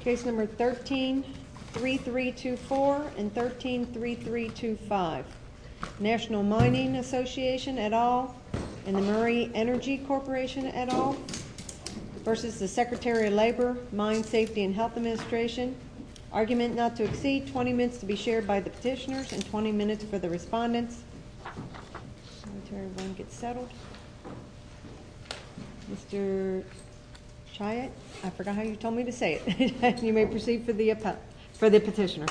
Case No. 13-3324 and 13-3325 National Mining Association et al. and the Murray Energy Corporation et al. v. Secretary of Labor, Mine Safety and Health Administration Argument not to exceed 20 minutes to be shared by the petitioners and 20 minutes for the respondents. Secretary of Labor gets settled. Mr. Chiat, I forgot how you told me to say it. You may proceed for the petitioner.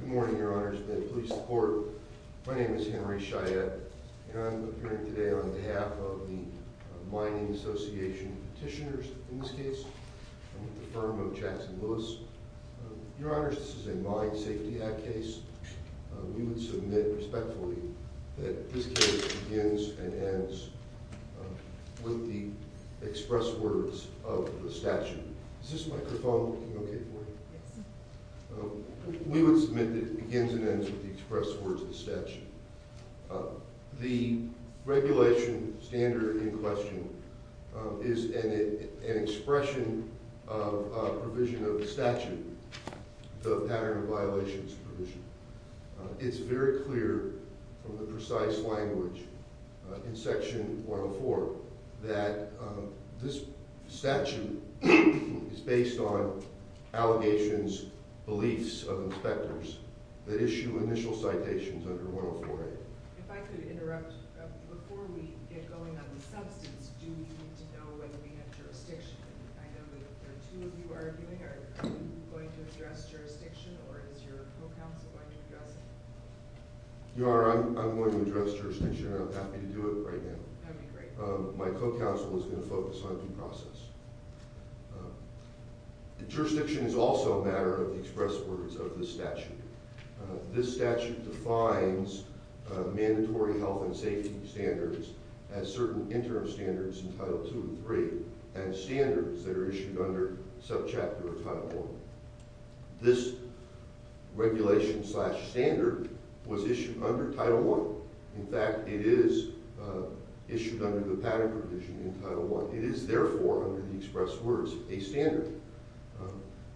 Good morning, Your Honors. May it please the Court, my name is Henry Chiat and I'm here today on behalf of the Mining Association petitioners, in this case, with the firm of Jackson Lewis. Your Honors, this is a Mine Safety Act case. We would submit respectfully that this case begins and ends with the express words of the statute. Is this microphone working okay for you? Yes. We would submit that it begins and ends with the express words of the statute. The regulation standard in question is an expression of a provision of the statute, the pattern of violations provision. It's very clear from the precise language in Section 104 that this statute is based on allegations, beliefs of inspectors that issue initial citations under 104A. If I could interrupt, before we get going on the substance, do we need to know whether we have jurisdiction? I know there are two of you arguing. Are you going to address jurisdiction or is your co-counsel going to address it? Your Honor, I'm going to address jurisdiction and I'm happy to do it right now. That would be great. My co-counsel is going to focus on due process. Jurisdiction is also a matter of the express words of the statute. This statute defines mandatory health and safety standards as certain interim standards in Title II and III and standards that are issued under subchapter of Title I. This regulation slash standard was issued under Title I. In fact, it is issued under the pattern provision in Title I. It is, therefore, under the express words, a standard.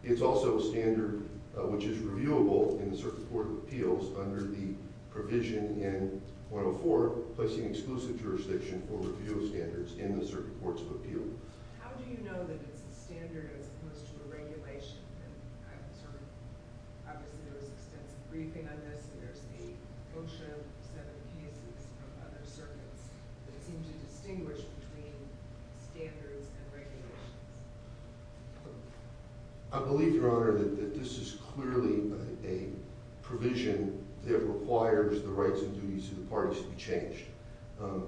It's also a standard which is reviewable in the Circuit Court of Appeals under the provision in 104, placing exclusive jurisdiction for review of standards in the Circuit Courts of Appeal. How do you know that it's a standard as opposed to a regulation? Obviously, there was extensive briefing on this and there's a brochure of seven cases from other circuits that seem to distinguish between standards and regulations. I believe, Your Honor, that this is clearly a provision that requires the rights and duties of the parties to be changed.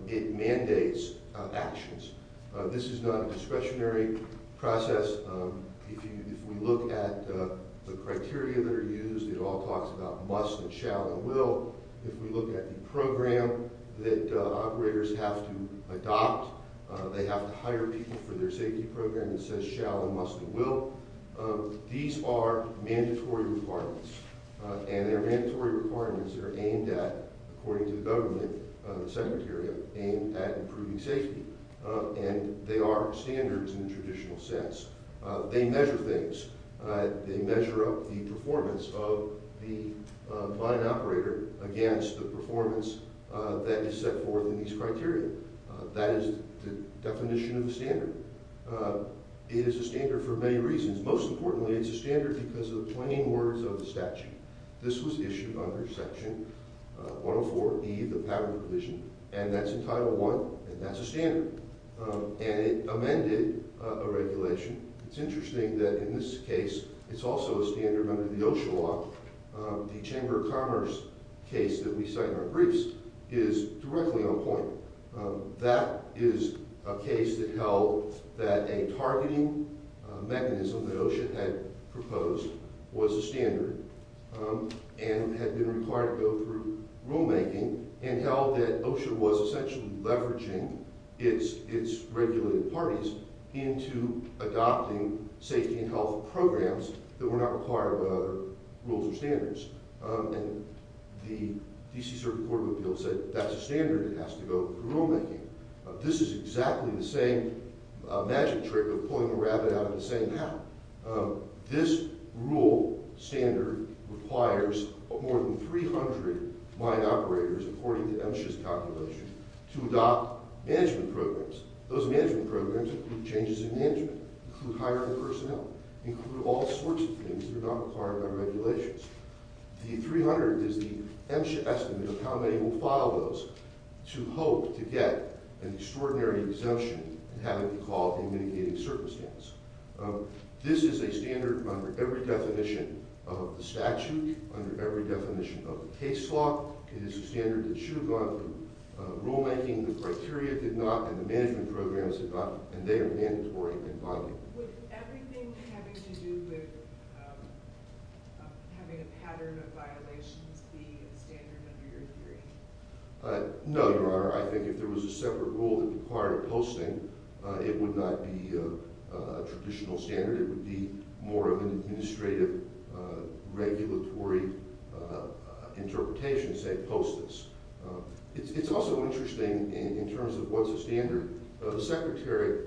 It mandates actions. This is not a discretionary process. If we look at the criteria that are used, it all talks about must and shall and will. If we look at the program that operators have to adopt, they have to hire people for their safety program that says shall and must and will. These are mandatory requirements, and they're mandatory requirements that are aimed at, according to the government, the Secretary, aimed at improving safety. And they are standards in the traditional sense. They measure things. They measure up the performance of the client operator against the performance that is set forth in these criteria. That is the definition of a standard. It is a standard for many reasons. Most importantly, it's a standard because of the plain words of the statute. This was issued under Section 104B, the patent provision, and that's in Title I, and that's a standard. And it amended a regulation. It's interesting that in this case, it's also a standard under the OSHA law. The Chamber of Commerce case that we cite in our briefs is directly on point. That is a case that held that a targeting mechanism that OSHA had proposed was a standard and had been required to go through rulemaking and held that OSHA was essentially leveraging its regulated parties into adopting safety and health programs that were not required by other rules or standards. And the D.C. Circuit Court of Appeals said that's a standard. It has to go through rulemaking. This is exactly the same magic trick of pulling a rabbit out of the same hat. This rule standard requires more than 300 client operators, according to MSHA's calculation, to adopt management programs. Those management programs include changes in management, include hiring personnel, include all sorts of things that are not required by regulations. The 300 is the MSHA estimate of how many will file those to hope to get an extraordinary exemption and have it be called a mitigating circumstance. This is a standard under every definition of the statute, under every definition of the case law. It is a standard that should have gone through rulemaking. The criteria did not, and the management programs did not, and they are mandatory and binding. Would everything having to do with having a pattern of violations be a standard under your hearing? No, Your Honor. I think if there was a separate rule that required posting, it would not be a traditional standard. It would be more of an administrative regulatory interpretation, say, post this. It's also interesting in terms of what's a standard. The Secretary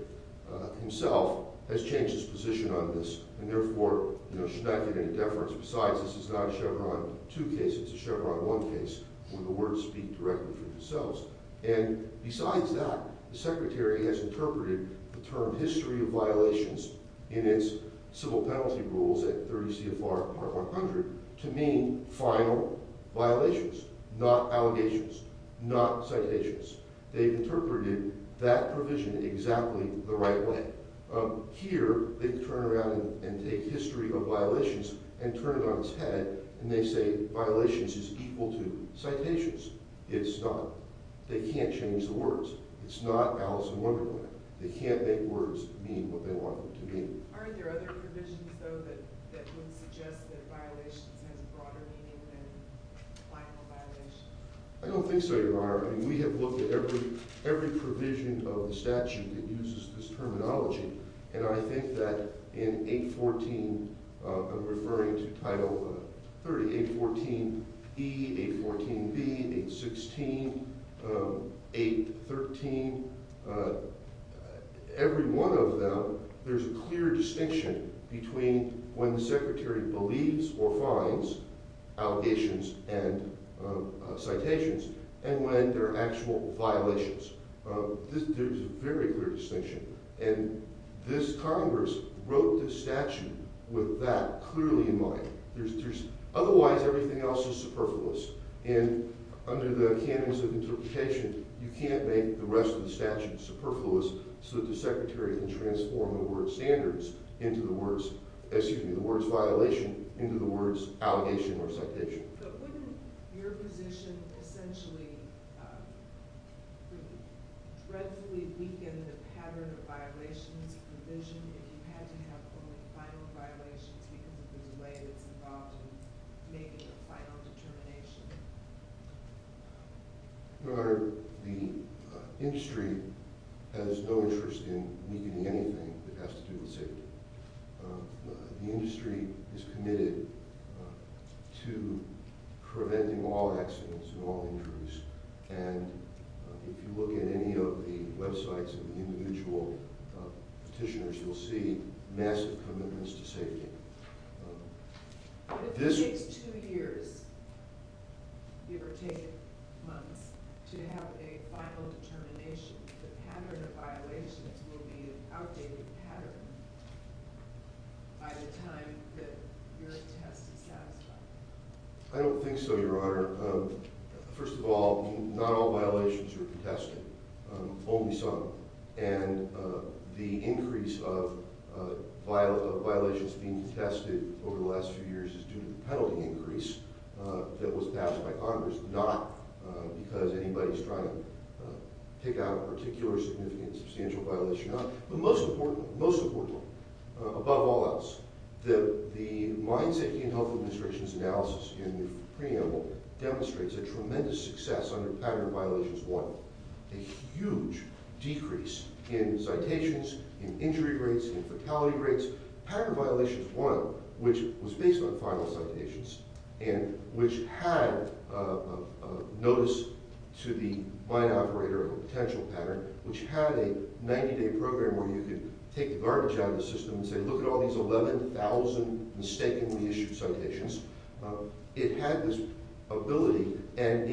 himself has changed his position on this and, therefore, should not give any deference. Besides, this is not a Chevron 2 case. It's a Chevron 1 case where the words speak directly for themselves. And besides that, the Secretary has interpreted the term history of violations in its civil penalty rules at 30 CFR Part 100 to mean final violations, not allegations, not citations. They've interpreted that provision exactly the right way. Here, they turn around and take history of violations and turn it on its head, and they say violations is equal to citations. It's not. They can't change the words. It's not Alice in Wonderland. They can't make words mean what they want them to mean. Are there other provisions, though, that would suggest that violations has broader meaning than final violations? I don't think so, Your Honor. I mean, we have looked at every provision of the statute that uses this terminology, and I think that in 814, I'm referring to Title 30, 814E, 814B, 816, 813, every one of them, there's a clear distinction between when the Secretary believes or finds allegations and citations and when they're actual violations. There's a very clear distinction. And this Congress wrote this statute with that clearly in mind. Otherwise, everything else is superfluous. And under the canons of interpretation, you can't make the rest of the statute superfluous so that the Secretary can transform the word standards into the words, excuse me, the words violation into the words allegation or citation. But wouldn't your position essentially dreadfully weaken the pattern of violations provision if you had to have only final violations because of the delay that's involved in making the final determination? Your Honor, the industry has no interest in weakening anything that has to do with safety. The industry is committed to preventing all accidents and all injuries. And if you look at any of the websites of the individual petitioners, you'll see massive commitments to safety. But if it takes two years, give or take months, to have a final determination, the pattern of violations will be an outdated pattern by the time that your test is satisfied. I don't think so, Your Honor. First of all, not all violations are contested, only some. And the increase of violations being contested over the last few years is due to the penalty increase that was passed by Congress, not because anybody's trying to take out a particular significant substantial violation or not. But most importantly, most importantly, above all else, the Mind, Safety, and Health Administration's analysis in the preamble demonstrates a tremendous success under pattern of violations one. A huge decrease in citations, in injury rates, in fatality rates. Pattern of violations one, which was based on final citations and which had notice to the mine operator of a potential pattern, which had a 90-day program where you could take the garbage out of the system and say, look at all these 11,000 mistakenly issued citations. It had this ability, and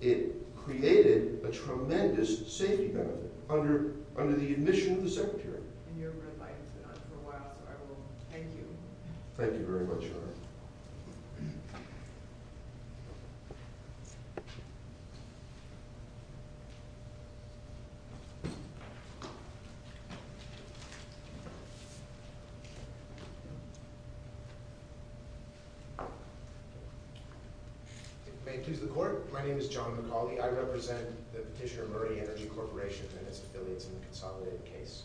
it created a tremendous safety benefit under the admission of the Secretary. I've been in your red light for a while, so I will thank you. Thank you very much, Your Honor. May it please the Court. My name is John McCauley. I represent the Petitioner Murray Energy Corporation and its affiliates in the consolidated case.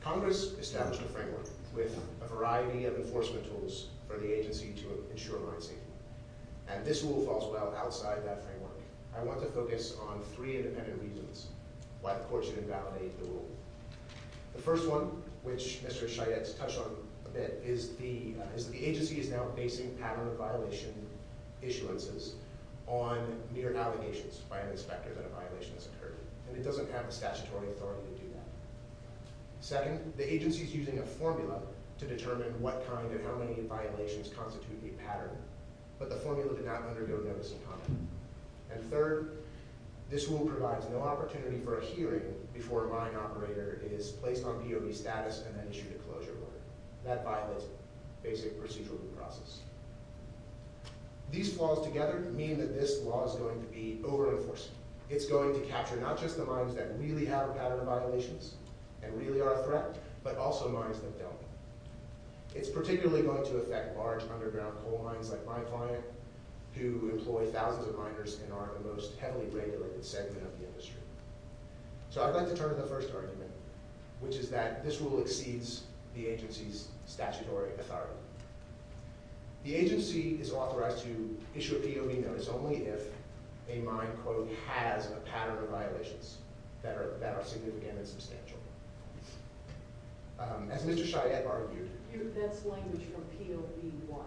Congress established a framework with a variety of enforcement tools for the agency to ensure mine safety. And this rule falls well outside that framework. I want to focus on three independent reasons why the Court should invalidate the rule. The first one, which Mr. Chayette touched on a bit, is the agency is now basing pattern of violation issuances on mere allegations by an inspector that a violation has occurred. And it doesn't have the statutory authority to do that. Second, the agency is using a formula to determine what kind and how many violations constitute a pattern. But the formula did not undergo notice of conduct. And third, this rule provides no opportunity for a hearing before a mine operator is placed on POV status and then issued a closure warrant. That violates basic procedural due process. These flaws together mean that this law is going to be over-enforced. It's going to capture not just the mines that really have a pattern of violations and really are a threat, but also mines that don't. It's particularly going to affect large underground coal mines like my client, who employ thousands of miners and are the most heavily regulated segment of the industry. So I'd like to turn to the first argument, which is that this rule exceeds the agency's statutory authority. The agency is authorized to issue a POV notice only if a mine, quote, has a pattern of violations that are significant and substantial. As Mr. Cheyette argued... That's language from POV 1.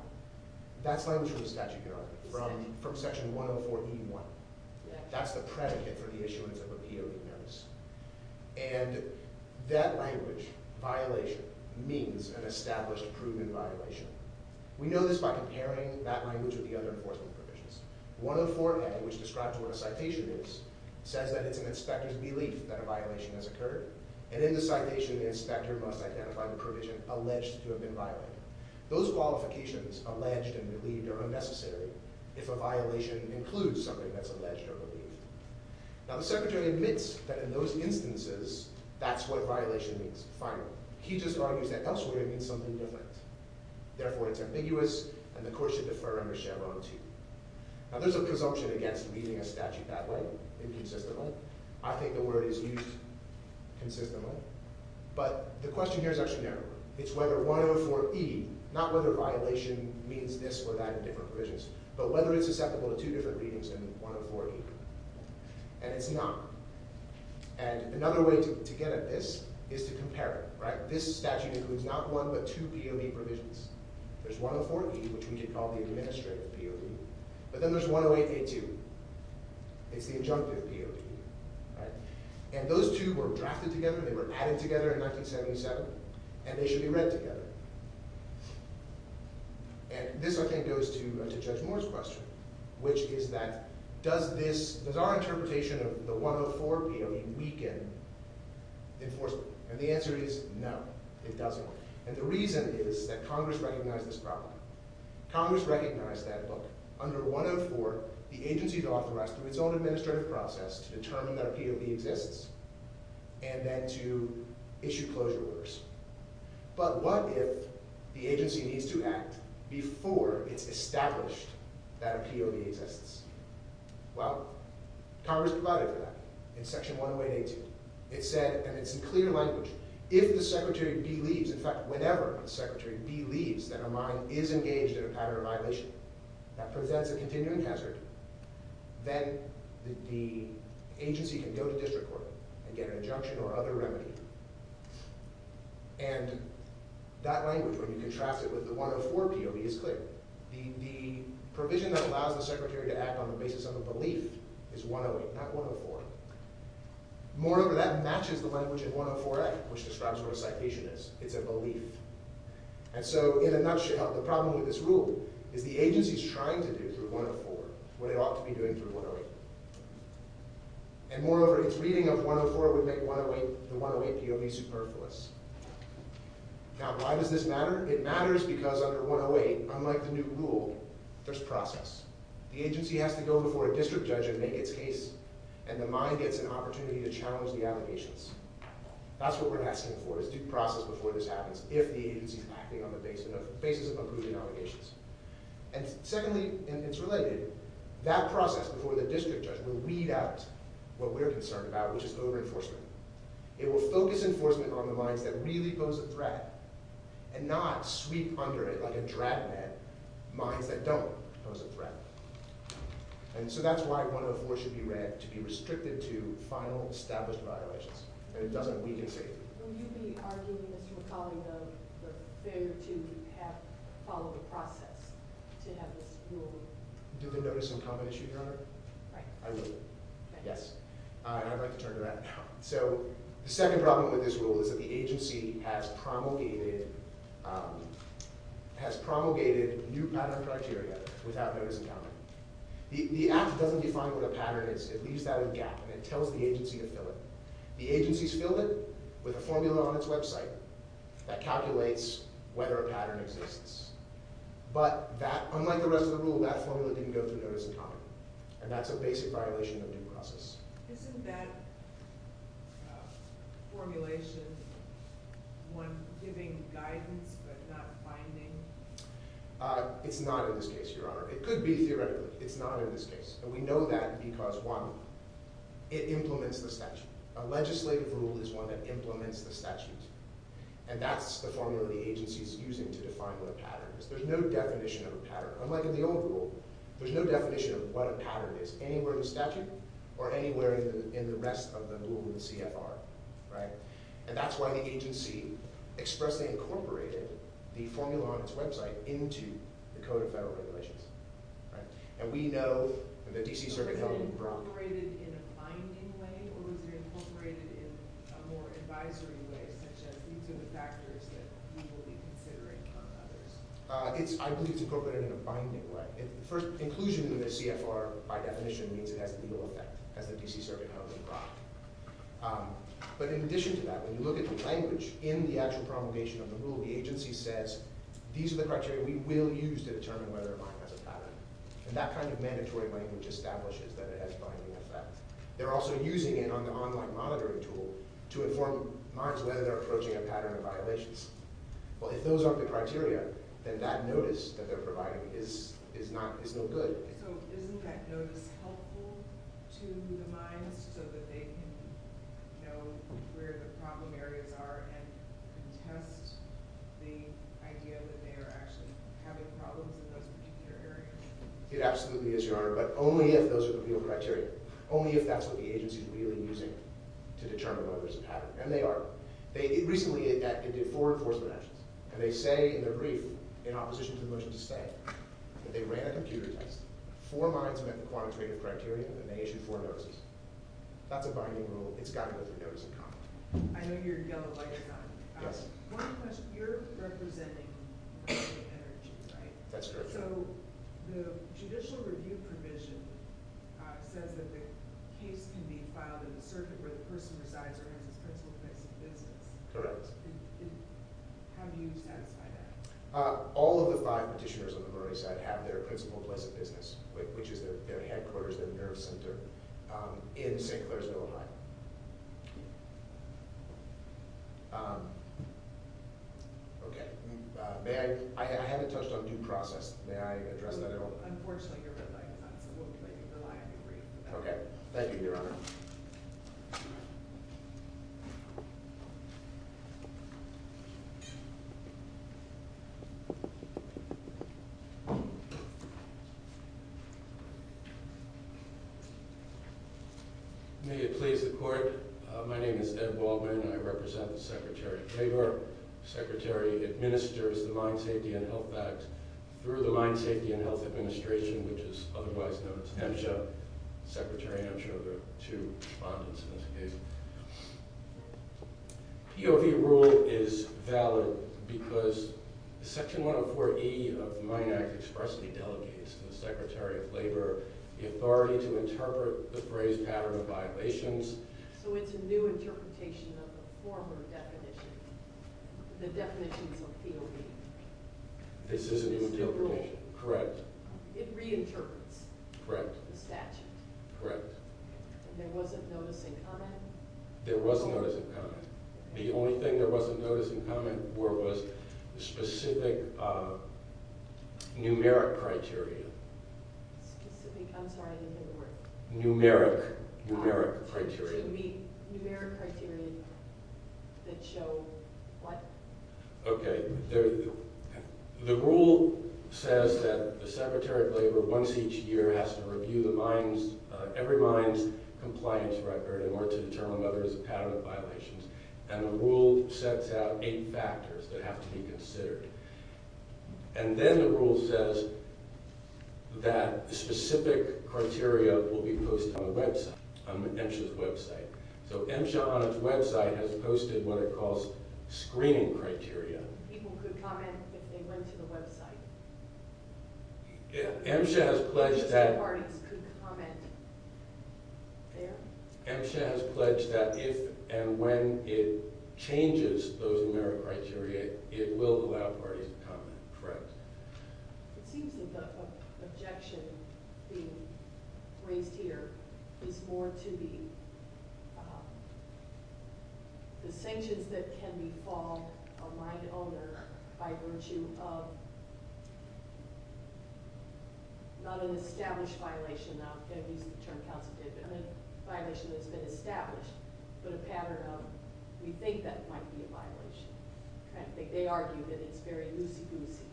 That's language from the statutory authority, from Section 104E1. That's the predicate for the issuance of a POV notice. And that language, violation, means an established proven violation. We know this by comparing that language with the other enforcement provisions. 104A, which describes what a citation is, says that it's an inspector's belief that a violation has occurred. And in the citation, the inspector must identify the provision alleged to have been violated. Those qualifications, alleged and believed, are unnecessary if a violation includes something that's alleged or believed. Now, the secretary admits that in those instances, that's what violation means, finally. He just argues that elsewhere, it means something different. Therefore, it's ambiguous, and the court should defer under Chevron 2. Now, there's a presumption against reading a statute that way, inconsistently. I think the word is used consistently. But the question here is actually narrower. It's whether 104E, not whether violation means this or that in different provisions, but whether it's susceptible to two different readings than 104E. And it's not. And another way to get at this is to compare it. This statute includes not one but two POV provisions. There's 104E, which we could call the administrative POV. But then there's 108A too. It's the injunctive POV. And those two were drafted together. They were added together in 1977. And they should be read together. And this, I think, goes to Judge Moore's question, which is that does our interpretation of the 104 POV weaken enforcement? And the answer is no, it doesn't. And the reason is that Congress recognized this problem. Congress recognized that, look, under 104, the agency is authorized, through its own administrative process, to determine that a POV exists and then to issue closure orders. But what if the agency needs to act before it's established that a POV exists? Well, Congress provided for that in Section 118A. It said, and it's in clear language, if the secretary B leaves, in fact, whenever the secretary B leaves, that a mine is engaged in a pattern of violation that presents a continuing hazard, then the agency can go to district court and get an injunction or other remedy. And that language, when you contrast it with the 104 POV, is clear. The provision that allows the secretary to act on the basis of a belief is 108, not 104. Moreover, that matches the language in 104A, which describes what a citation is. It's a belief. And so, in a nutshell, the problem with this rule is the agency is trying to do, through 104, what it ought to be doing through 108. And moreover, its reading of 104 would make the 108 POV superfluous. Now, why does this matter? It matters because under 108, unlike the new rule, there's process. The agency has to go before a district judge and make its case, and the mine gets an opportunity to challenge the allegations. That's what we're asking for, is due process before this happens, if the agency's acting on the basis of approving allegations. And secondly, and it's related, that process before the district judge will weed out what we're concerned about, which is over-enforcement. It will focus enforcement on the mines that really pose a threat and not sweep under it like a drab net mines that don't pose a threat. And so that's why 104 should be read to be restricted to final, established violations, and it doesn't weaken safety. Will you be arguing, as you were calling them, the failure to follow the process to have this rule? Do the notice-in-common issue, Your Honor? Right. I will. Yes. And I'd like to turn to that now. So the second problem with this rule is that the agency has promulgated new pattern criteria without notice-in-common. The Act doesn't define what a pattern is. It leaves that as a gap, and it tells the agency to fill it. The agency's filled it with a formula on its website that calculates whether a pattern exists. But unlike the rest of the rule, that formula didn't go through notice-in-common, and that's a basic violation of due process. Isn't that formulation one giving guidance but not finding? It's not in this case, Your Honor. It could be theoretically. It's not in this case. And we know that because, one, it implements the statute. A legislative rule is one that implements the statute, and that's the formula the agency is using to define what a pattern is. There's no definition of a pattern. Unlike in the old rule, there's no definition of what a pattern is anywhere in the statute or anywhere in the rest of the rule in the CFR. And that's why the agency expressly incorporated the formula on its website into the Code of Federal Regulations. And we know that the D.C. Circuit held it broad. Was it incorporated in a binding way, or was it incorporated in a more advisory way, such as these are the factors that we will be considering on others? I believe it's incorporated in a binding way. First, inclusion in the CFR, by definition, means it has legal effect, as the D.C. Circuit held it broad. But in addition to that, when you look at the language in the actual promulgation of the rule, the agency says, these are the criteria we will use to determine whether a mine has a pattern. And that kind of mandatory language establishes that it has binding effect. They're also using it on the online monitoring tool to inform mines whether they're approaching a pattern of violations. Well, if those aren't the criteria, then that notice that they're providing is no good. So isn't that notice helpful to the mines so that they can know where the problem areas are and can test the idea that they are actually having problems in those particular areas? It absolutely is, Your Honor. But only if those are the real criteria. Only if that's what the agency is really using to determine whether there's a pattern. And they are. Recently, it did four enforcement actions. And they say in their brief, in opposition to the motion to stay, that they ran a computer test. Four mines met the quantitative criteria, and they issued four notices. That's a binding rule. It's got to go through notice and comment. I know you're in yellow light or something. Yes. One question. You're representing the Energy, right? That's correct, Your Honor. So the judicial review provision says that the case can be filed in a circuit where the person resides or has his principal place of business. Correct. How do you satisfy that? All of the five petitioners on the Brony side have their principal place of business, which is their headquarters, their nerve center. In St. Clairsville, Ohio. Okay. May I? I haven't touched on due process. May I address that at all? Unfortunately, Your Honor, I absolutely rely on your brief. Okay. Thank you, Your Honor. May it please the Court. My name is Ed Waldman, and I represent the Secretary of Labor. The Secretary administers the Mine Safety and Health Act through the Mine Safety and Health Administration, which is otherwise known as MSHA. The Secretary and I'm sure there are two respondents in this case. POV rule is valid because Section 104E of the Mine Act expressly delegates to the Secretary of Labor the authority to interpret the phrase pattern of violations. So it's a new interpretation of the former definition. The definitions of POV. This is a new interpretation. Is the rule. Correct. It reinterprets. Correct. The statute. Correct. And there wasn't notice and comment? There was notice and comment. The only thing there wasn't notice and comment for was specific numeric criteria. Specific. I'm sorry. I didn't hear the word. Numeric. Numeric criteria. Numeric criteria that show what? Okay. The rule says that the Secretary of Labor once each year has to review the mines, every mine's compliance record in order to determine whether there's a pattern of violations. And the rule sets out eight factors that have to be considered. And then the rule says that specific criteria will be posted on the website, on MSHA's website. So MSHA on its website has posted what it calls screening criteria. People could comment if they went to the website. MSHA has pledged that if and when it changes those numeric criteria, it will allow parties to comment. Correct. It seems that the objection being raised here is more to be the sanctions that can befall a mine owner by virtue of not an established violation. Now, I'm going to use the term counsel did, but a violation that's been established, but a pattern of we think that might be a violation kind of thing. They argue that it's very loosey-goosey,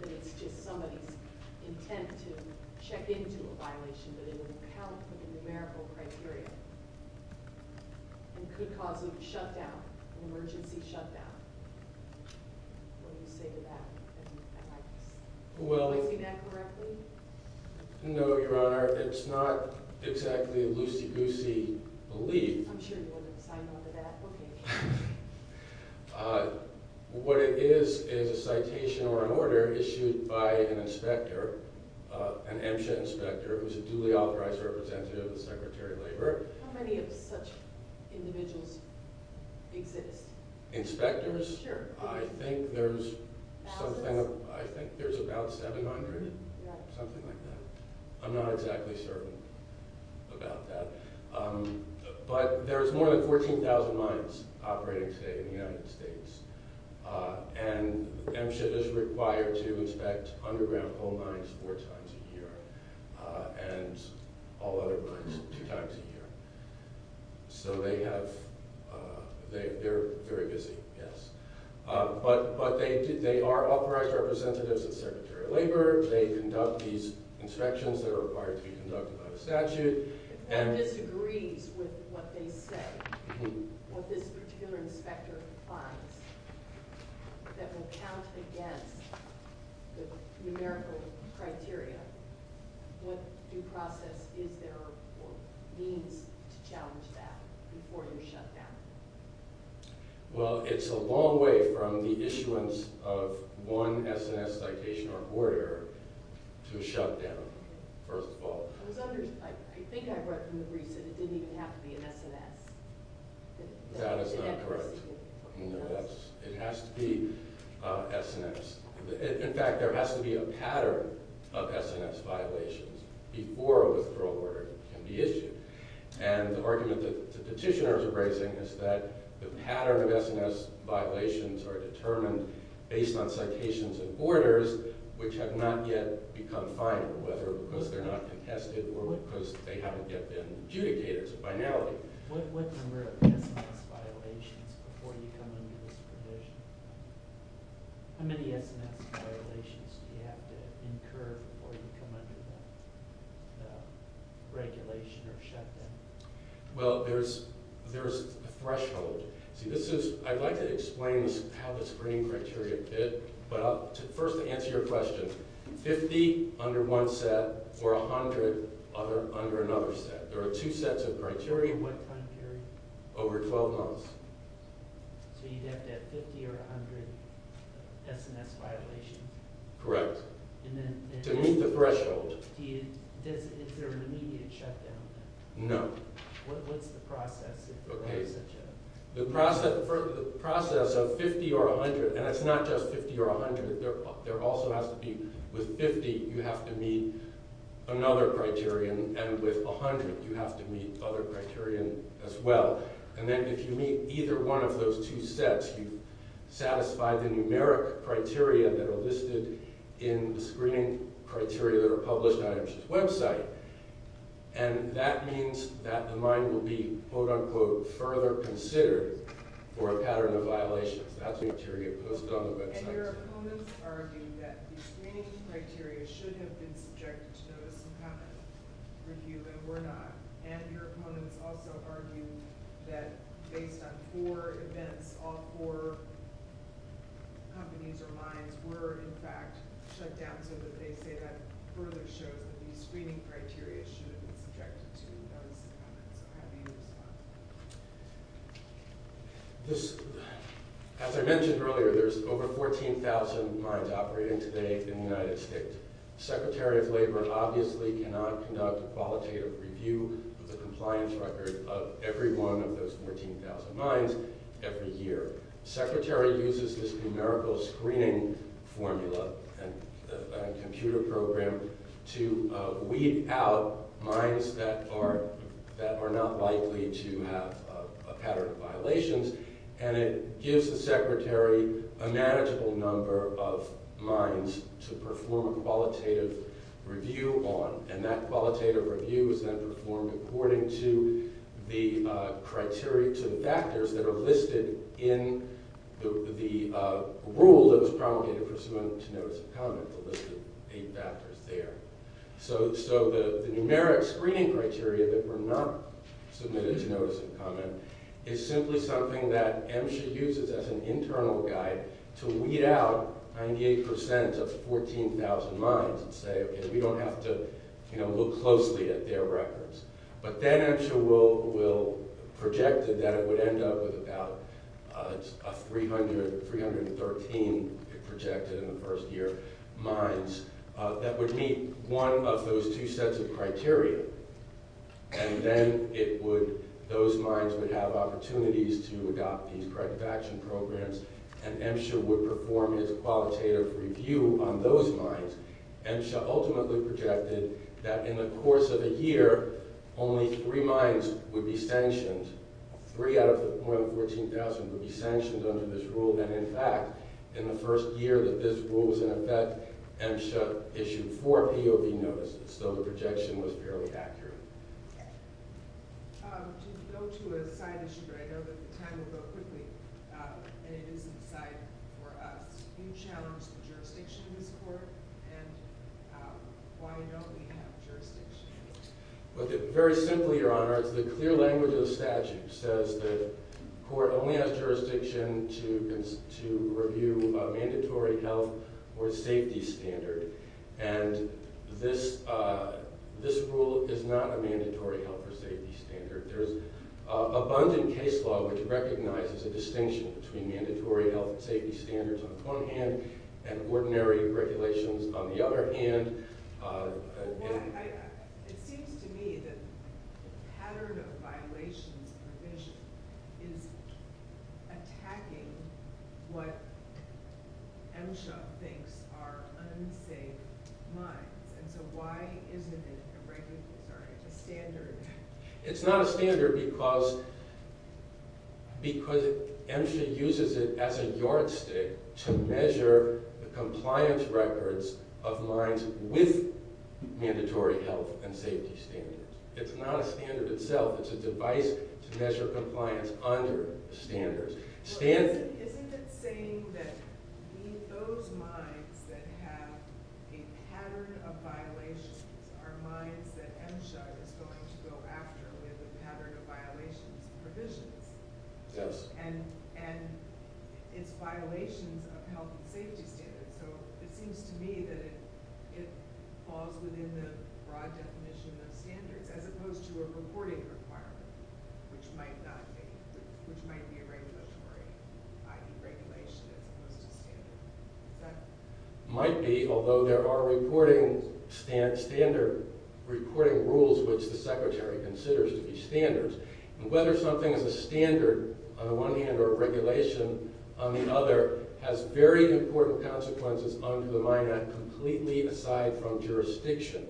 that it's just somebody's intent to check into a violation, but it wouldn't count within the numerical criteria. It could cause a shutdown, an emergency shutdown. What do you say to that? Well. Do you see that correctly? No, Your Honor. It's not exactly a loosey-goosey belief. I'm sure you wouldn't sign on to that. Okay. What it is is a citation or an order issued by an inspector, an MSHA inspector who's a duly authorized representative of the Secretary of Labor. How many of such individuals exist? Inspectors? Sure. I think there's something. Thousands? I think there's about 700. Yeah. Something like that. I'm not exactly certain about that. But there's more than 14,000 mines operating today in the United States, and MSHA is required to inspect underground coal mines four times a year and all other mines two times a year. So they have – they're very busy, yes. But they are authorized representatives of the Secretary of Labor. They conduct these inspections that are required to be conducted by the statute. If one disagrees with what they say, what this particular inspector finds, that will count against the numerical criteria, what due process is there or means to challenge that before you shut down? Well, it's a long way from the issuance of one SNS citation or order to a shutdown, first of all. I think I read from the briefs that it didn't even have to be an SNS. That is not correct. It has to be SNS. In fact, there has to be a pattern of SNS violations before a withdrawal order can be issued. And the argument that the petitioners are raising is that the pattern of SNS violations are determined based on citations and orders, which have not yet become final, whether because they're not contested or because they haven't yet been adjudicated as a binary. What number of SNS violations before you come under this provision? How many SNS violations do you have to incur before you come under the regulation or shutdown? Well, there's a threshold. I'd like to explain how the screening criteria fit, but I'll first answer your question. Fifty under one set or 100 under another set. There are two sets of criteria. Over what time period? Over 12 months. So you'd have to have 50 or 100 SNS violations? Correct. To meet the threshold? Is there an immediate shutdown? No. What's the process? The process of 50 or 100, and it's not just 50 or 100. There also has to be, with 50, you have to meet another criterion, and with 100, you have to meet other criterion as well. And then if you meet either one of those two sets, you satisfy the numeric criteria that are listed in the screening criteria that are published on IMG's website. And that means that the mine will be, quote unquote, further considered for a pattern of violations. That's the criteria posted on the website. And your opponents argue that the screening criteria should have been subjected to notice and comment review and were not. And your opponents also argue that based on four events, all four companies or mines were, in fact, shut down so that they say that further shows that the screening criteria should have been subjected to notice and comment. How do you respond? As I mentioned earlier, there's over 14,000 mines operating today in the United States. Secretary of Labor obviously cannot conduct a qualitative review of the compliance record of every one of those 14,000 mines every year. Secretary uses this numerical screening formula and computer program to weed out mines that are not likely to have a pattern of violations. And it gives the secretary a manageable number of mines to perform a qualitative review on. And that qualitative review is then performed according to the criteria, to the factors that are listed in the rule that was promulgated for submitting to notice and comment. The list of eight factors there. So the numeric screening criteria that were not submitted to notice and comment is simply something that MSHA uses as an internal guide to weed out 98% of 14,000 mines and say, OK, we don't have to look closely at their records. But then MSHA projected that it would end up with about 313, it projected in the first year, mines that would meet one of those two sets of criteria. And then those mines would have opportunities to adopt these corrective action programs, and MSHA would perform its qualitative review on those mines. MSHA ultimately projected that in the course of a year, only three mines would be sanctioned, three out of more than 14,000 would be sanctioned under this rule. And in fact, in the first year that this rule was in effect, MSHA issued four POV notices. So the projection was fairly accurate. To go to a side issue, I know that time will go quickly, and it is an aside for us. You challenged the jurisdiction in this court, and why don't we have jurisdiction? Very simply, Your Honor, it's the clear language of the statute says the court only has jurisdiction to review a mandatory health or safety standard. And this rule is not a mandatory health or safety standard. There's abundant case law which recognizes a distinction between mandatory health and safety standards on the one hand, and ordinary regulations on the other hand. Well, it seems to me that the pattern of violations provision is attacking what MSHA thinks are unsafe mines. And so why isn't it a standard? It's not a standard because MSHA uses it as a yardstick to measure the compliance records of mines with mandatory health and safety standards. It's not a standard itself. It's a device to measure compliance under standards. Isn't it saying that those mines that have a pattern of violations are mines that MSHA is going to go after with a pattern of violations provisions? Yes. And it's violations of health and safety standards. So it seems to me that it falls within the broad definition of standards as opposed to a reporting requirement, which might be a regulatory regulation as opposed to standard. Might be, although there are reporting rules which the Secretary considers to be standards. And whether something is a standard on the one hand or a regulation on the other has very important consequences under the Mine Act completely aside from jurisdiction.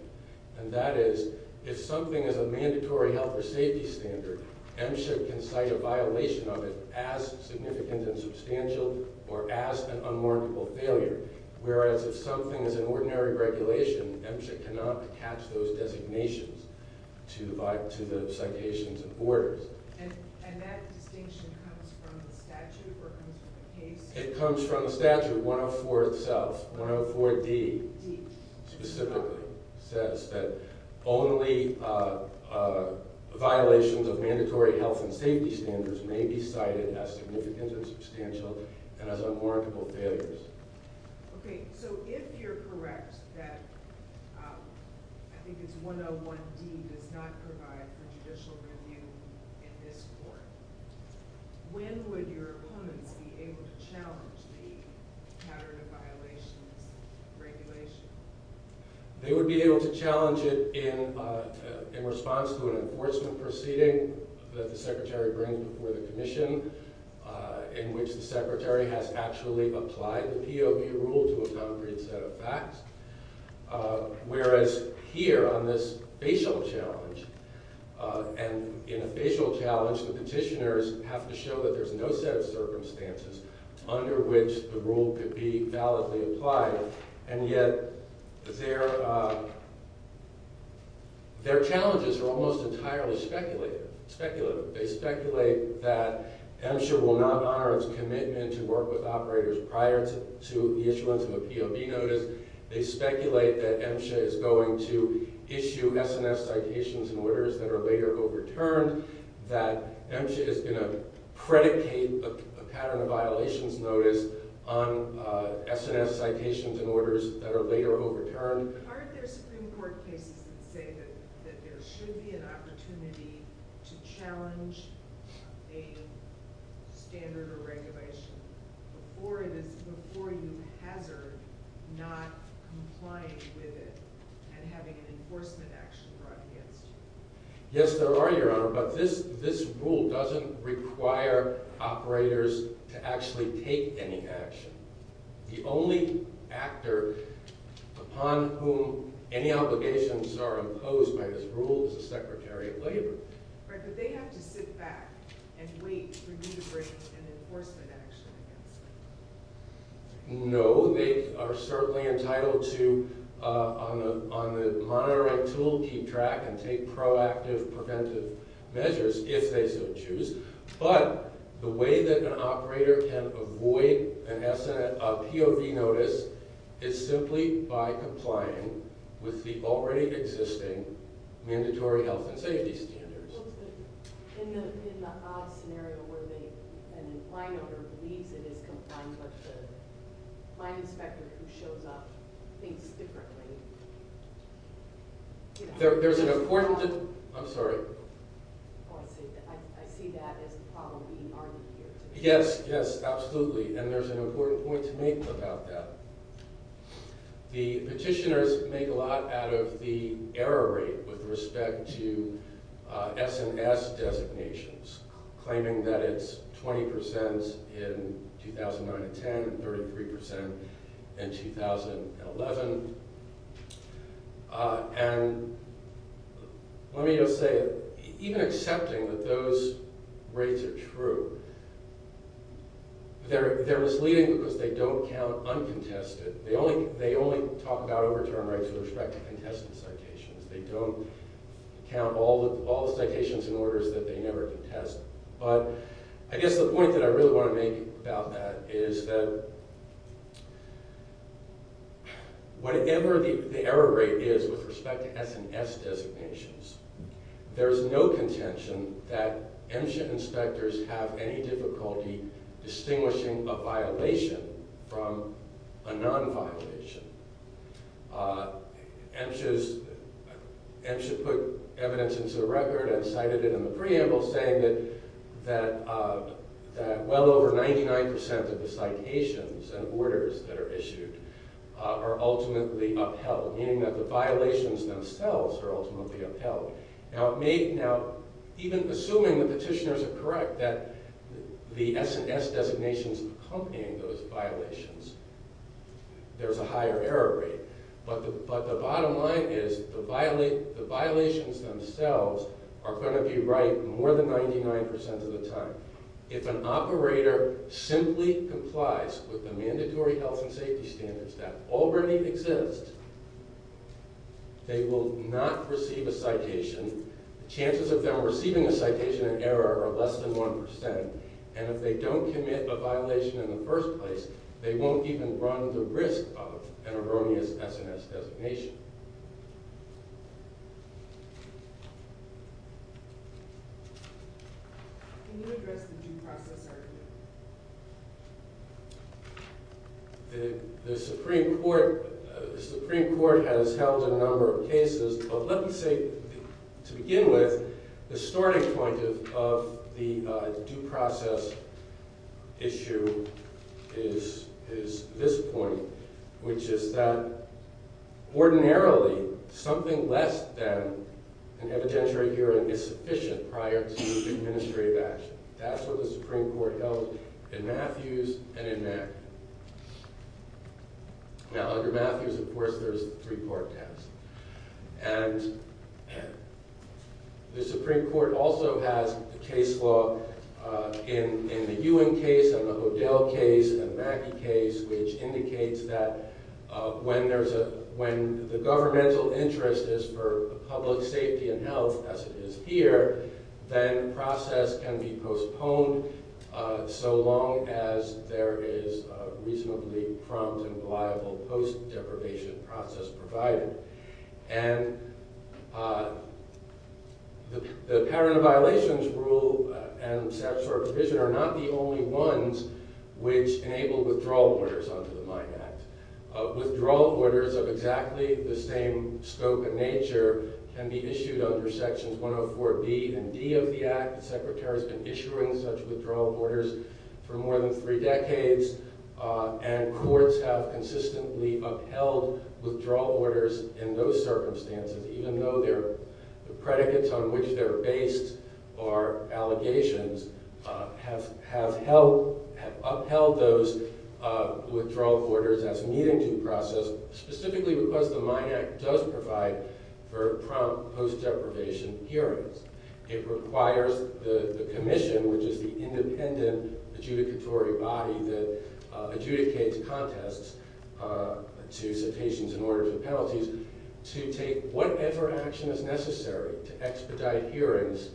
And that is, if something is a mandatory health or safety standard, MSHA can cite a violation of it as significant and substantial or as an unmarkable failure. Whereas if something is an ordinary regulation, MSHA cannot attach those designations to the citations and orders. And that distinction comes from the statute or comes from the case? It comes from the statute 104 itself. 104D specifically says that only violations of mandatory health and safety standards may be cited as significant or substantial and as unmarkable failures. Okay, so if you're correct that I think it's 101D does not provide for judicial review in this court, when would your opponents be able to challenge the pattern of violations regulation? They would be able to challenge it in response to an enforcement proceeding that the Secretary brings before the Commission in which the Secretary has actually applied the POV rule to a concrete set of facts. Whereas here on this facial challenge, and in a facial challenge the petitioners have to show that there's no set of circumstances under which the rule could be validly applied and yet their challenges are almost entirely speculative. They speculate that MSHA will not honor its commitment to work with operators prior to the issuance of a POV notice. They speculate that MSHA is going to issue SNS citations and orders that are later overturned. That MSHA is going to predicate a pattern of violations notice on SNS citations and orders that are later overturned. Aren't there Supreme Court cases that say that there should be an opportunity to challenge a standard or regulation before you hazard not complying with it and having an enforcement action brought against you? Yes there are, Your Honor, but this rule doesn't require operators to actually take any action. The only actor upon whom any obligations are imposed by this rule is the Secretary of Labor. Right, but they have to sit back and wait for you to bring an enforcement action against them. No, they are certainly entitled to, on the monitoring tool, keep track and take proactive preventive measures if they so choose. But the way that an operator can avoid a POV notice is simply by complying with the already existing mandatory health and safety standards. In the odd scenario where an in-fine operator believes it is compliant, but the fine inspector who shows up thinks differently. There's an important... I'm sorry. I see that as the problem being argued here. Yes, yes, absolutely, and there's an important point to make about that. The petitioners make a lot out of the error rate with respect to S&S designations, claiming that it's 20% in 2009-10 and 33% in 2011. Let me just say, even accepting that those rates are true, they're misleading because they don't count uncontested. They only talk about overturned rights with respect to contested citations. They don't count all the citations in order so that they never contest. But I guess the point that I really want to make about that is that whatever the error rate is with respect to S&S designations, there's no contention that MSHA inspectors have any difficulty distinguishing a violation from a non-violation. MSHA put evidence into the record and cited it in the preamble, saying that well over 99% of the citations and orders that are issued are ultimately upheld, meaning that the violations themselves are ultimately upheld. Now, even assuming the petitioners are correct that the S&S designations accompany those violations, there's a higher error rate. But the bottom line is the violations themselves are going to be right more than 99% of the time. If an operator simply complies with the mandatory health and safety standards that already exist, they will not receive a citation. Chances of them receiving a citation in error are less than 1%. And if they don't commit a violation in the first place, they won't even run the risk of an erroneous S&S designation. The Supreme Court has held a number of cases, but let me say to begin with, the starting point of the due process issue is this point, which is that ordinarily something less than an evidentiary hearing is sufficient prior to the administrative action. That's what the Supreme Court held in Matthews and in Mack. Now, under Matthews, of course, there's the three-part test. And the Supreme Court also has a case law in the Ewing case and the Hodel case and the Mackey case, which indicates that when the governmental interest is for public safety and health, as it is here, then process can be postponed so long as there is a reasonably prompt and reliable post-deprivation process provided. And the pattern of violations rule and statutory provision are not the only ones which enable withdrawal orders under the Mine Act. Withdrawal orders of exactly the same scope and nature can be issued under Sections 104B and D of the Act. The Secretary has been issuing such withdrawal orders for more than three decades, and courts have consistently upheld withdrawal orders in those circumstances, even though the predicates on which they're based or allegations have upheld those withdrawal orders as needing due process, specifically because the Mine Act does provide for prompt post-deprivation hearings. It requires the Commission, which is the independent adjudicatory body that adjudicates contests to citations and orders of penalties, to take whatever action is necessary to expedite hearings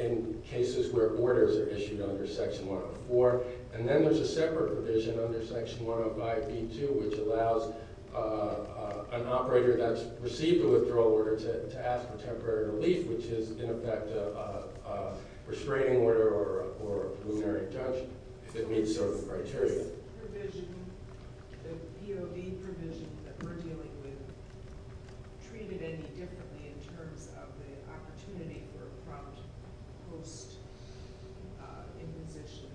in cases where orders are issued under Section 104. And then there's a separate provision under Section 105B2, which allows an operator that's received a withdrawal order to ask for temporary relief, which is, in effect, a restraining order or a preliminary judge, if it meets certain criteria. Is this provision, the POV provision that we're dealing with, treated any differently in terms of the opportunity for prompt post-imposition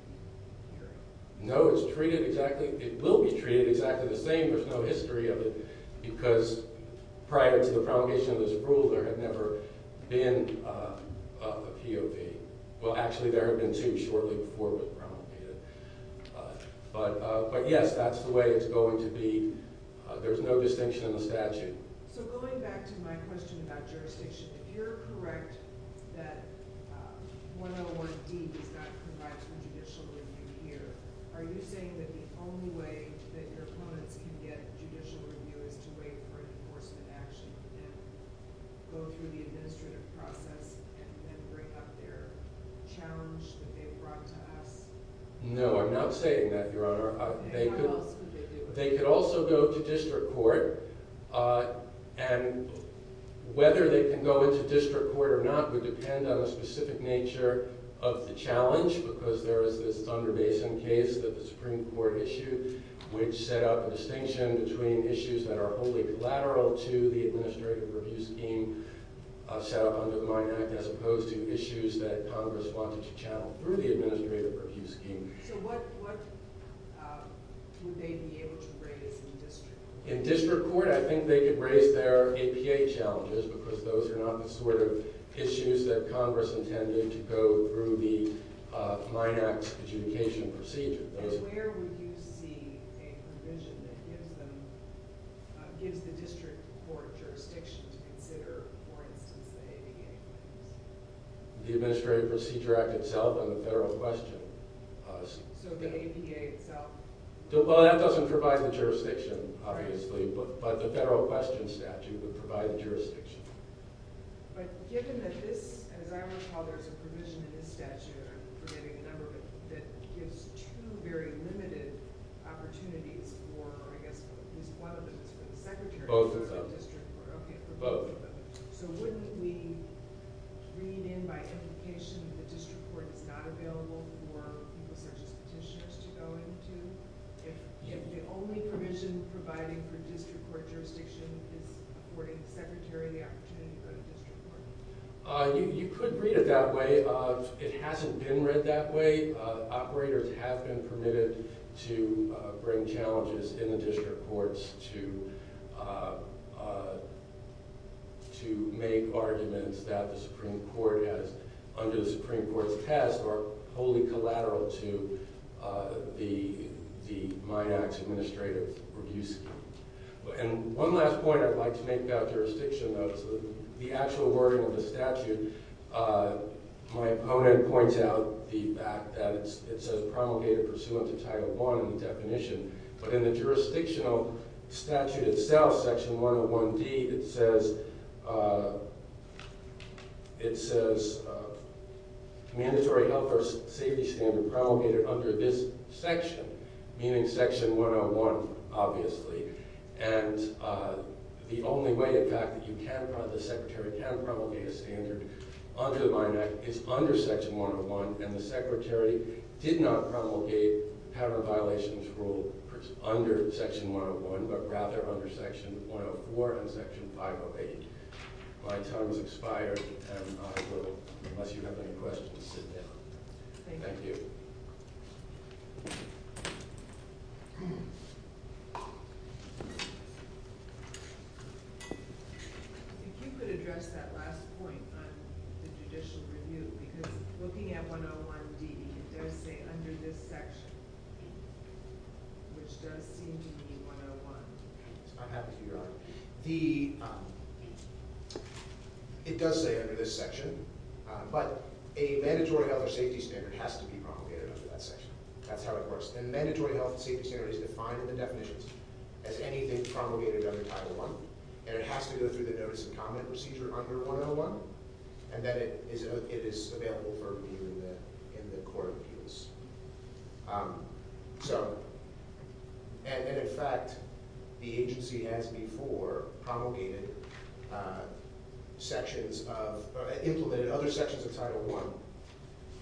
hearing? No, it's treated exactly – it will be treated exactly the same. There's no history of it, because prior to the promulgation of this rule, there had never been a POV. Well, actually, there have been two shortly before it was promulgated. But yes, that's the way it's going to be. There's no distinction in the statute. So going back to my question about jurisdiction, if you're correct that 101D does not provide for judicial review here, are you saying that the only way that your opponents can get judicial review is to wait for an enforcement action and go through the administrative process and then bring up their challenge that they've brought to us? No, I'm not saying that, Your Honor. Then what else could they do? They could also go to district court. And whether they can go into district court or not would depend on the specific nature of the challenge, because there is this Thunder Basin case that the Supreme Court issued, which set up a distinction between issues that are wholly collateral to the administrative review scheme set up under the MIND Act as opposed to issues that Congress wanted to channel through the administrative review scheme. So what would they be able to raise in district court? In district court, I think they could raise their APA challenges, because those are not the sort of issues that Congress intended to go through the MIND Act's adjudication procedure. And where would you see a provision that gives the district court jurisdiction to consider, for instance, the APA? The Administrative Procedure Act itself and the federal question. So the APA itself? Well, that doesn't provide the jurisdiction, obviously. But the federal question statute would provide the jurisdiction. But given that this, as I recall, there's a provision in this statute, I'm forgetting the number, that gives two very limited opportunities for, or I guess at least one of them is for the Secretary to go to district court. Both of them. Okay, for both of them. So wouldn't we read in by implication that the district court is not available for people such as petitioners to go into, if the only provision providing for district court jurisdiction is affording the Secretary the opportunity to go to district court? You could read it that way. It hasn't been read that way. Operators have been permitted to bring challenges in the district courts to make arguments that the Supreme Court has, under the Supreme Court's test, are wholly collateral to the MIND Act's administrative review scheme. And one last point I'd like to make about jurisdiction, though, is the actual wording of the statute. My opponent points out the fact that it says promulgated pursuant to Title I in the definition. But in the jurisdictional statute itself, Section 101D, it says, it says mandatory health or safety standard promulgated under this section, meaning Section 101, obviously. And the only way, in fact, that the Secretary can promulgate a standard under the MIND Act is under Section 101. And the Secretary did not promulgate the pattern of violations rule under Section 101, but rather under Section 104 and Section 508. My time has expired, and I will, unless you have any questions, sit down. Thank you. If you could address that last point on the judicial review, because looking at 101D, it does say under this section, which does seem to be 101. I'm happy to hear that. It does say under this section, but a mandatory health or safety standard has to be promulgated under that section. That's how it works. A mandatory health or safety standard is defined in the definitions as anything promulgated under Title I, and it has to go through the notice and comment procedure under 101, and then it is available for review in the court of appeals. So – and in fact, the agency has before promulgated sections of – implemented other sections of Title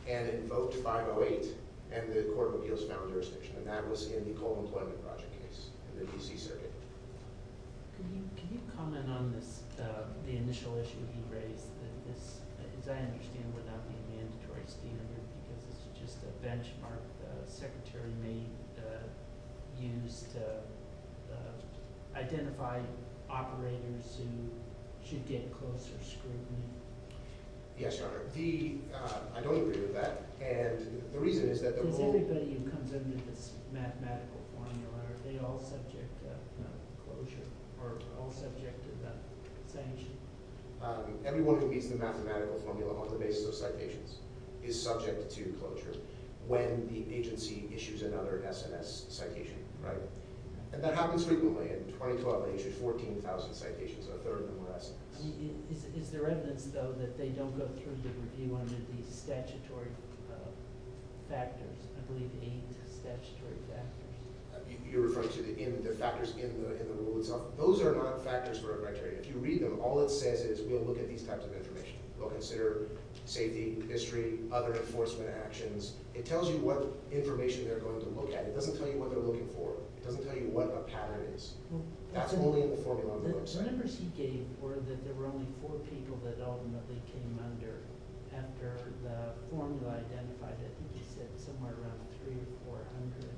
I, and in both 508 and the court of appeals found jurisdiction, and that was in the Cold Employment Project case in the D.C. Circuit. Could you comment on this – the initial issue you raised, that this, as I understand, would not be a mandatory standard because it's just a benchmark the Secretary may use to identify operators who should get closer scrutiny? Yes, Your Honor. The – I don't agree with that, and the reason is that the role – Everybody who comes into this mathematical formula, are they all subject to closure or all subject to the sanction? Everyone who meets the mathematical formula on the basis of citations is subject to closure when the agency issues another SNS citation, right? And that happens frequently. In 2012, they issued 14,000 citations on a third of them were SNS. Is there evidence, though, that they don't go through the review under the statutory factors? I believe eight statutory factors. You're referring to the factors in the rule itself? Those are not factors or criteria. If you read them, all it says is we'll look at these types of information. We'll consider safety, history, other enforcement actions. It tells you what information they're going to look at. It doesn't tell you what they're looking for. It doesn't tell you what a pattern is. That's only in the formula on the website. The numbers he gave were that there were only four people that ultimately came under after the formula identified, I think he said, somewhere around 300 or 400.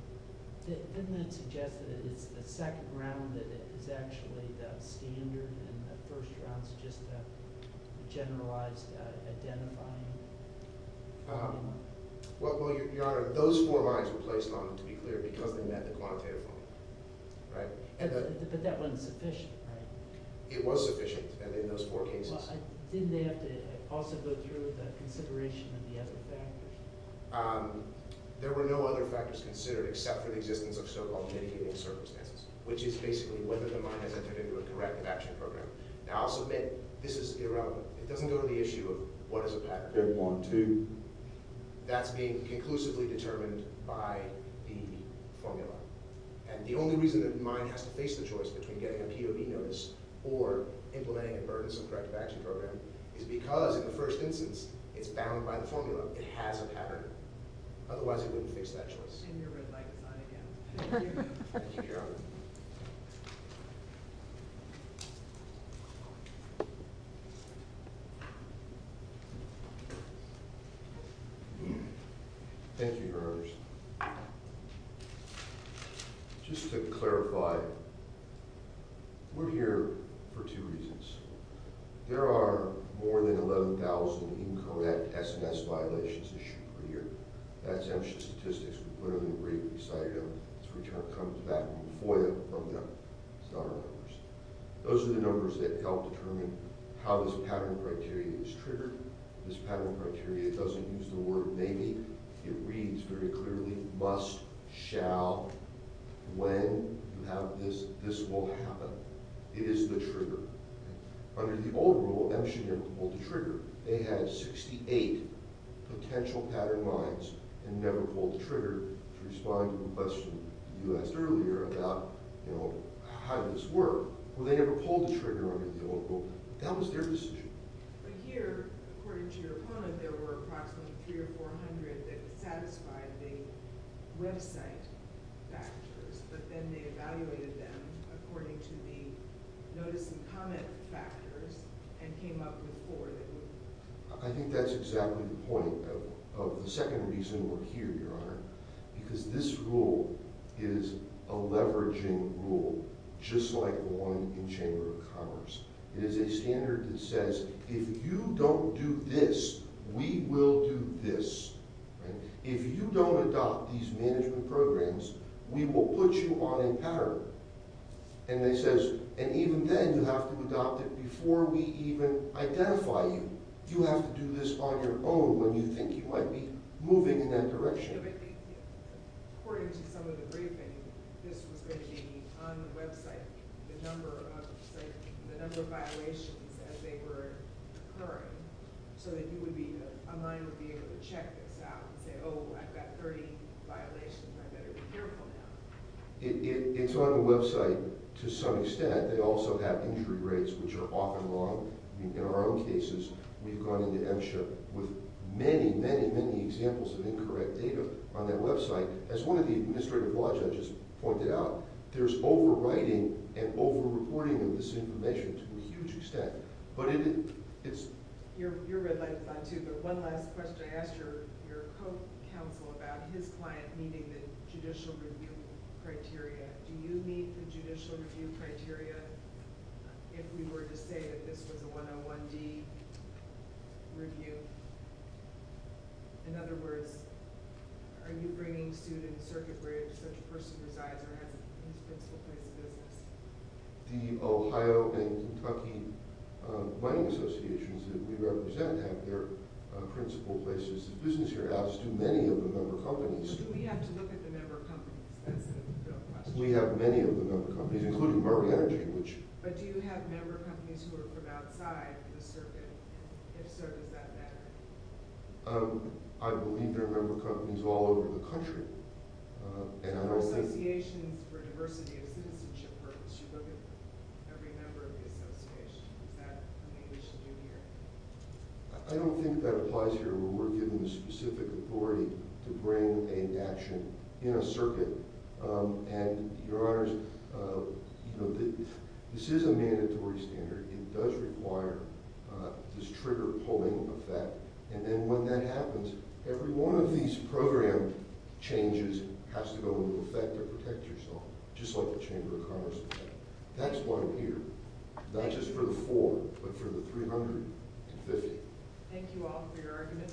Doesn't that suggest that it's the second round that is actually the standard and the first round is just the generalized identifying? Well, Your Honor, those four lines were placed on them, to be clear, because they met the quantitative formula, right? But that wasn't sufficient, right? It was sufficient in those four cases. Didn't they have to also go through the consideration of the other factors? There were no other factors considered except for the existence of so-called mitigating circumstances, which is basically whether the mind has entered into a corrective action program. Now, I'll submit this is irrelevant. It doesn't go to the issue of what is a pattern. That's being conclusively determined by the formula. And the only reason that the mind has to face the choice between getting a POV notice or implementing a burdensome corrective action program is because, in the first instance, it's bound by the formula. It has a pattern. Otherwise, it wouldn't face that choice. Thank you, Your Honor. Thank you, Your Honors. Just to clarify, we're here for two reasons. There are more than 11,000 incorrect SMS violations issued per year. That's ancient statistics. We put them in the brief. We cited them. This return comes back from FOIA from them. It's not our numbers. Those are the numbers that help determine how this pattern criteria is triggered. This pattern criteria doesn't use the word maybe. It reads very clearly, must, shall. When you have this, this will happen. It is the trigger. Under the old rule, M should never pull the trigger. They had 68 potential pattern minds and never pulled the trigger to respond to a question you asked earlier about how this worked. Well, they never pulled the trigger under the old rule. That was their decision. But here, according to your opponent, there were approximately 300 or 400 that satisfied the website factors, but then they evaluated them according to the notice and comment factors and came up with four that wouldn't. I think that's exactly the point of the second reason we're here, Your Honor, because this rule is a leveraging rule just like the one in the Chamber of Commerce. It is a standard that says if you don't do this, we will do this. If you don't adopt these management programs, we will put you on a pattern. And even then, you have to adopt it before we even identify you. You have to do this on your own when you think you might be moving in that direction. According to some of the briefing, this was going to be on the website, the number of violations as they were occurring, so that you would be able to check this out and say, oh, I've got 30 violations. I better be careful now. It's on the website to some extent. They also have injury rates, which are often long. In our own cases, we've gone into MSHA with many, many, many examples of incorrect data on that website. As one of the administrative law judges pointed out, there's overwriting and over-reporting of this information to a huge extent. But it's— Your red light is on, too, but one last question. I asked your co-counsel about his client meeting the judicial review criteria. Do you meet the judicial review criteria if we were to say that this was a 101-D review? In other words, are you bringing students to a place where such a person resides or has a principal place of business? The Ohio and Kentucky mining associations that we represent have their principal places of business here. As do many of the member companies. Do we have to look at the member companies? That's a real question. We have many of the member companies, including Mark Energy, which— But do you have member companies who are from outside the circuit? If so, does that matter? I believe there are member companies all over the country. And I don't think— There are associations for diversity of citizenship purposes. You look at every member of the association. Is that something we should do here? I don't think that applies here when we're given the specific authority to bring an action in a circuit. And, Your Honors, this is a mandatory standard. It does require this trigger-pulling effect. And then when that happens, every one of these program changes has to go into effect to protect yourself, just like the Chamber of Commerce did. That's why we're here, not just for the four, but for the 350. Thank you all for your argument.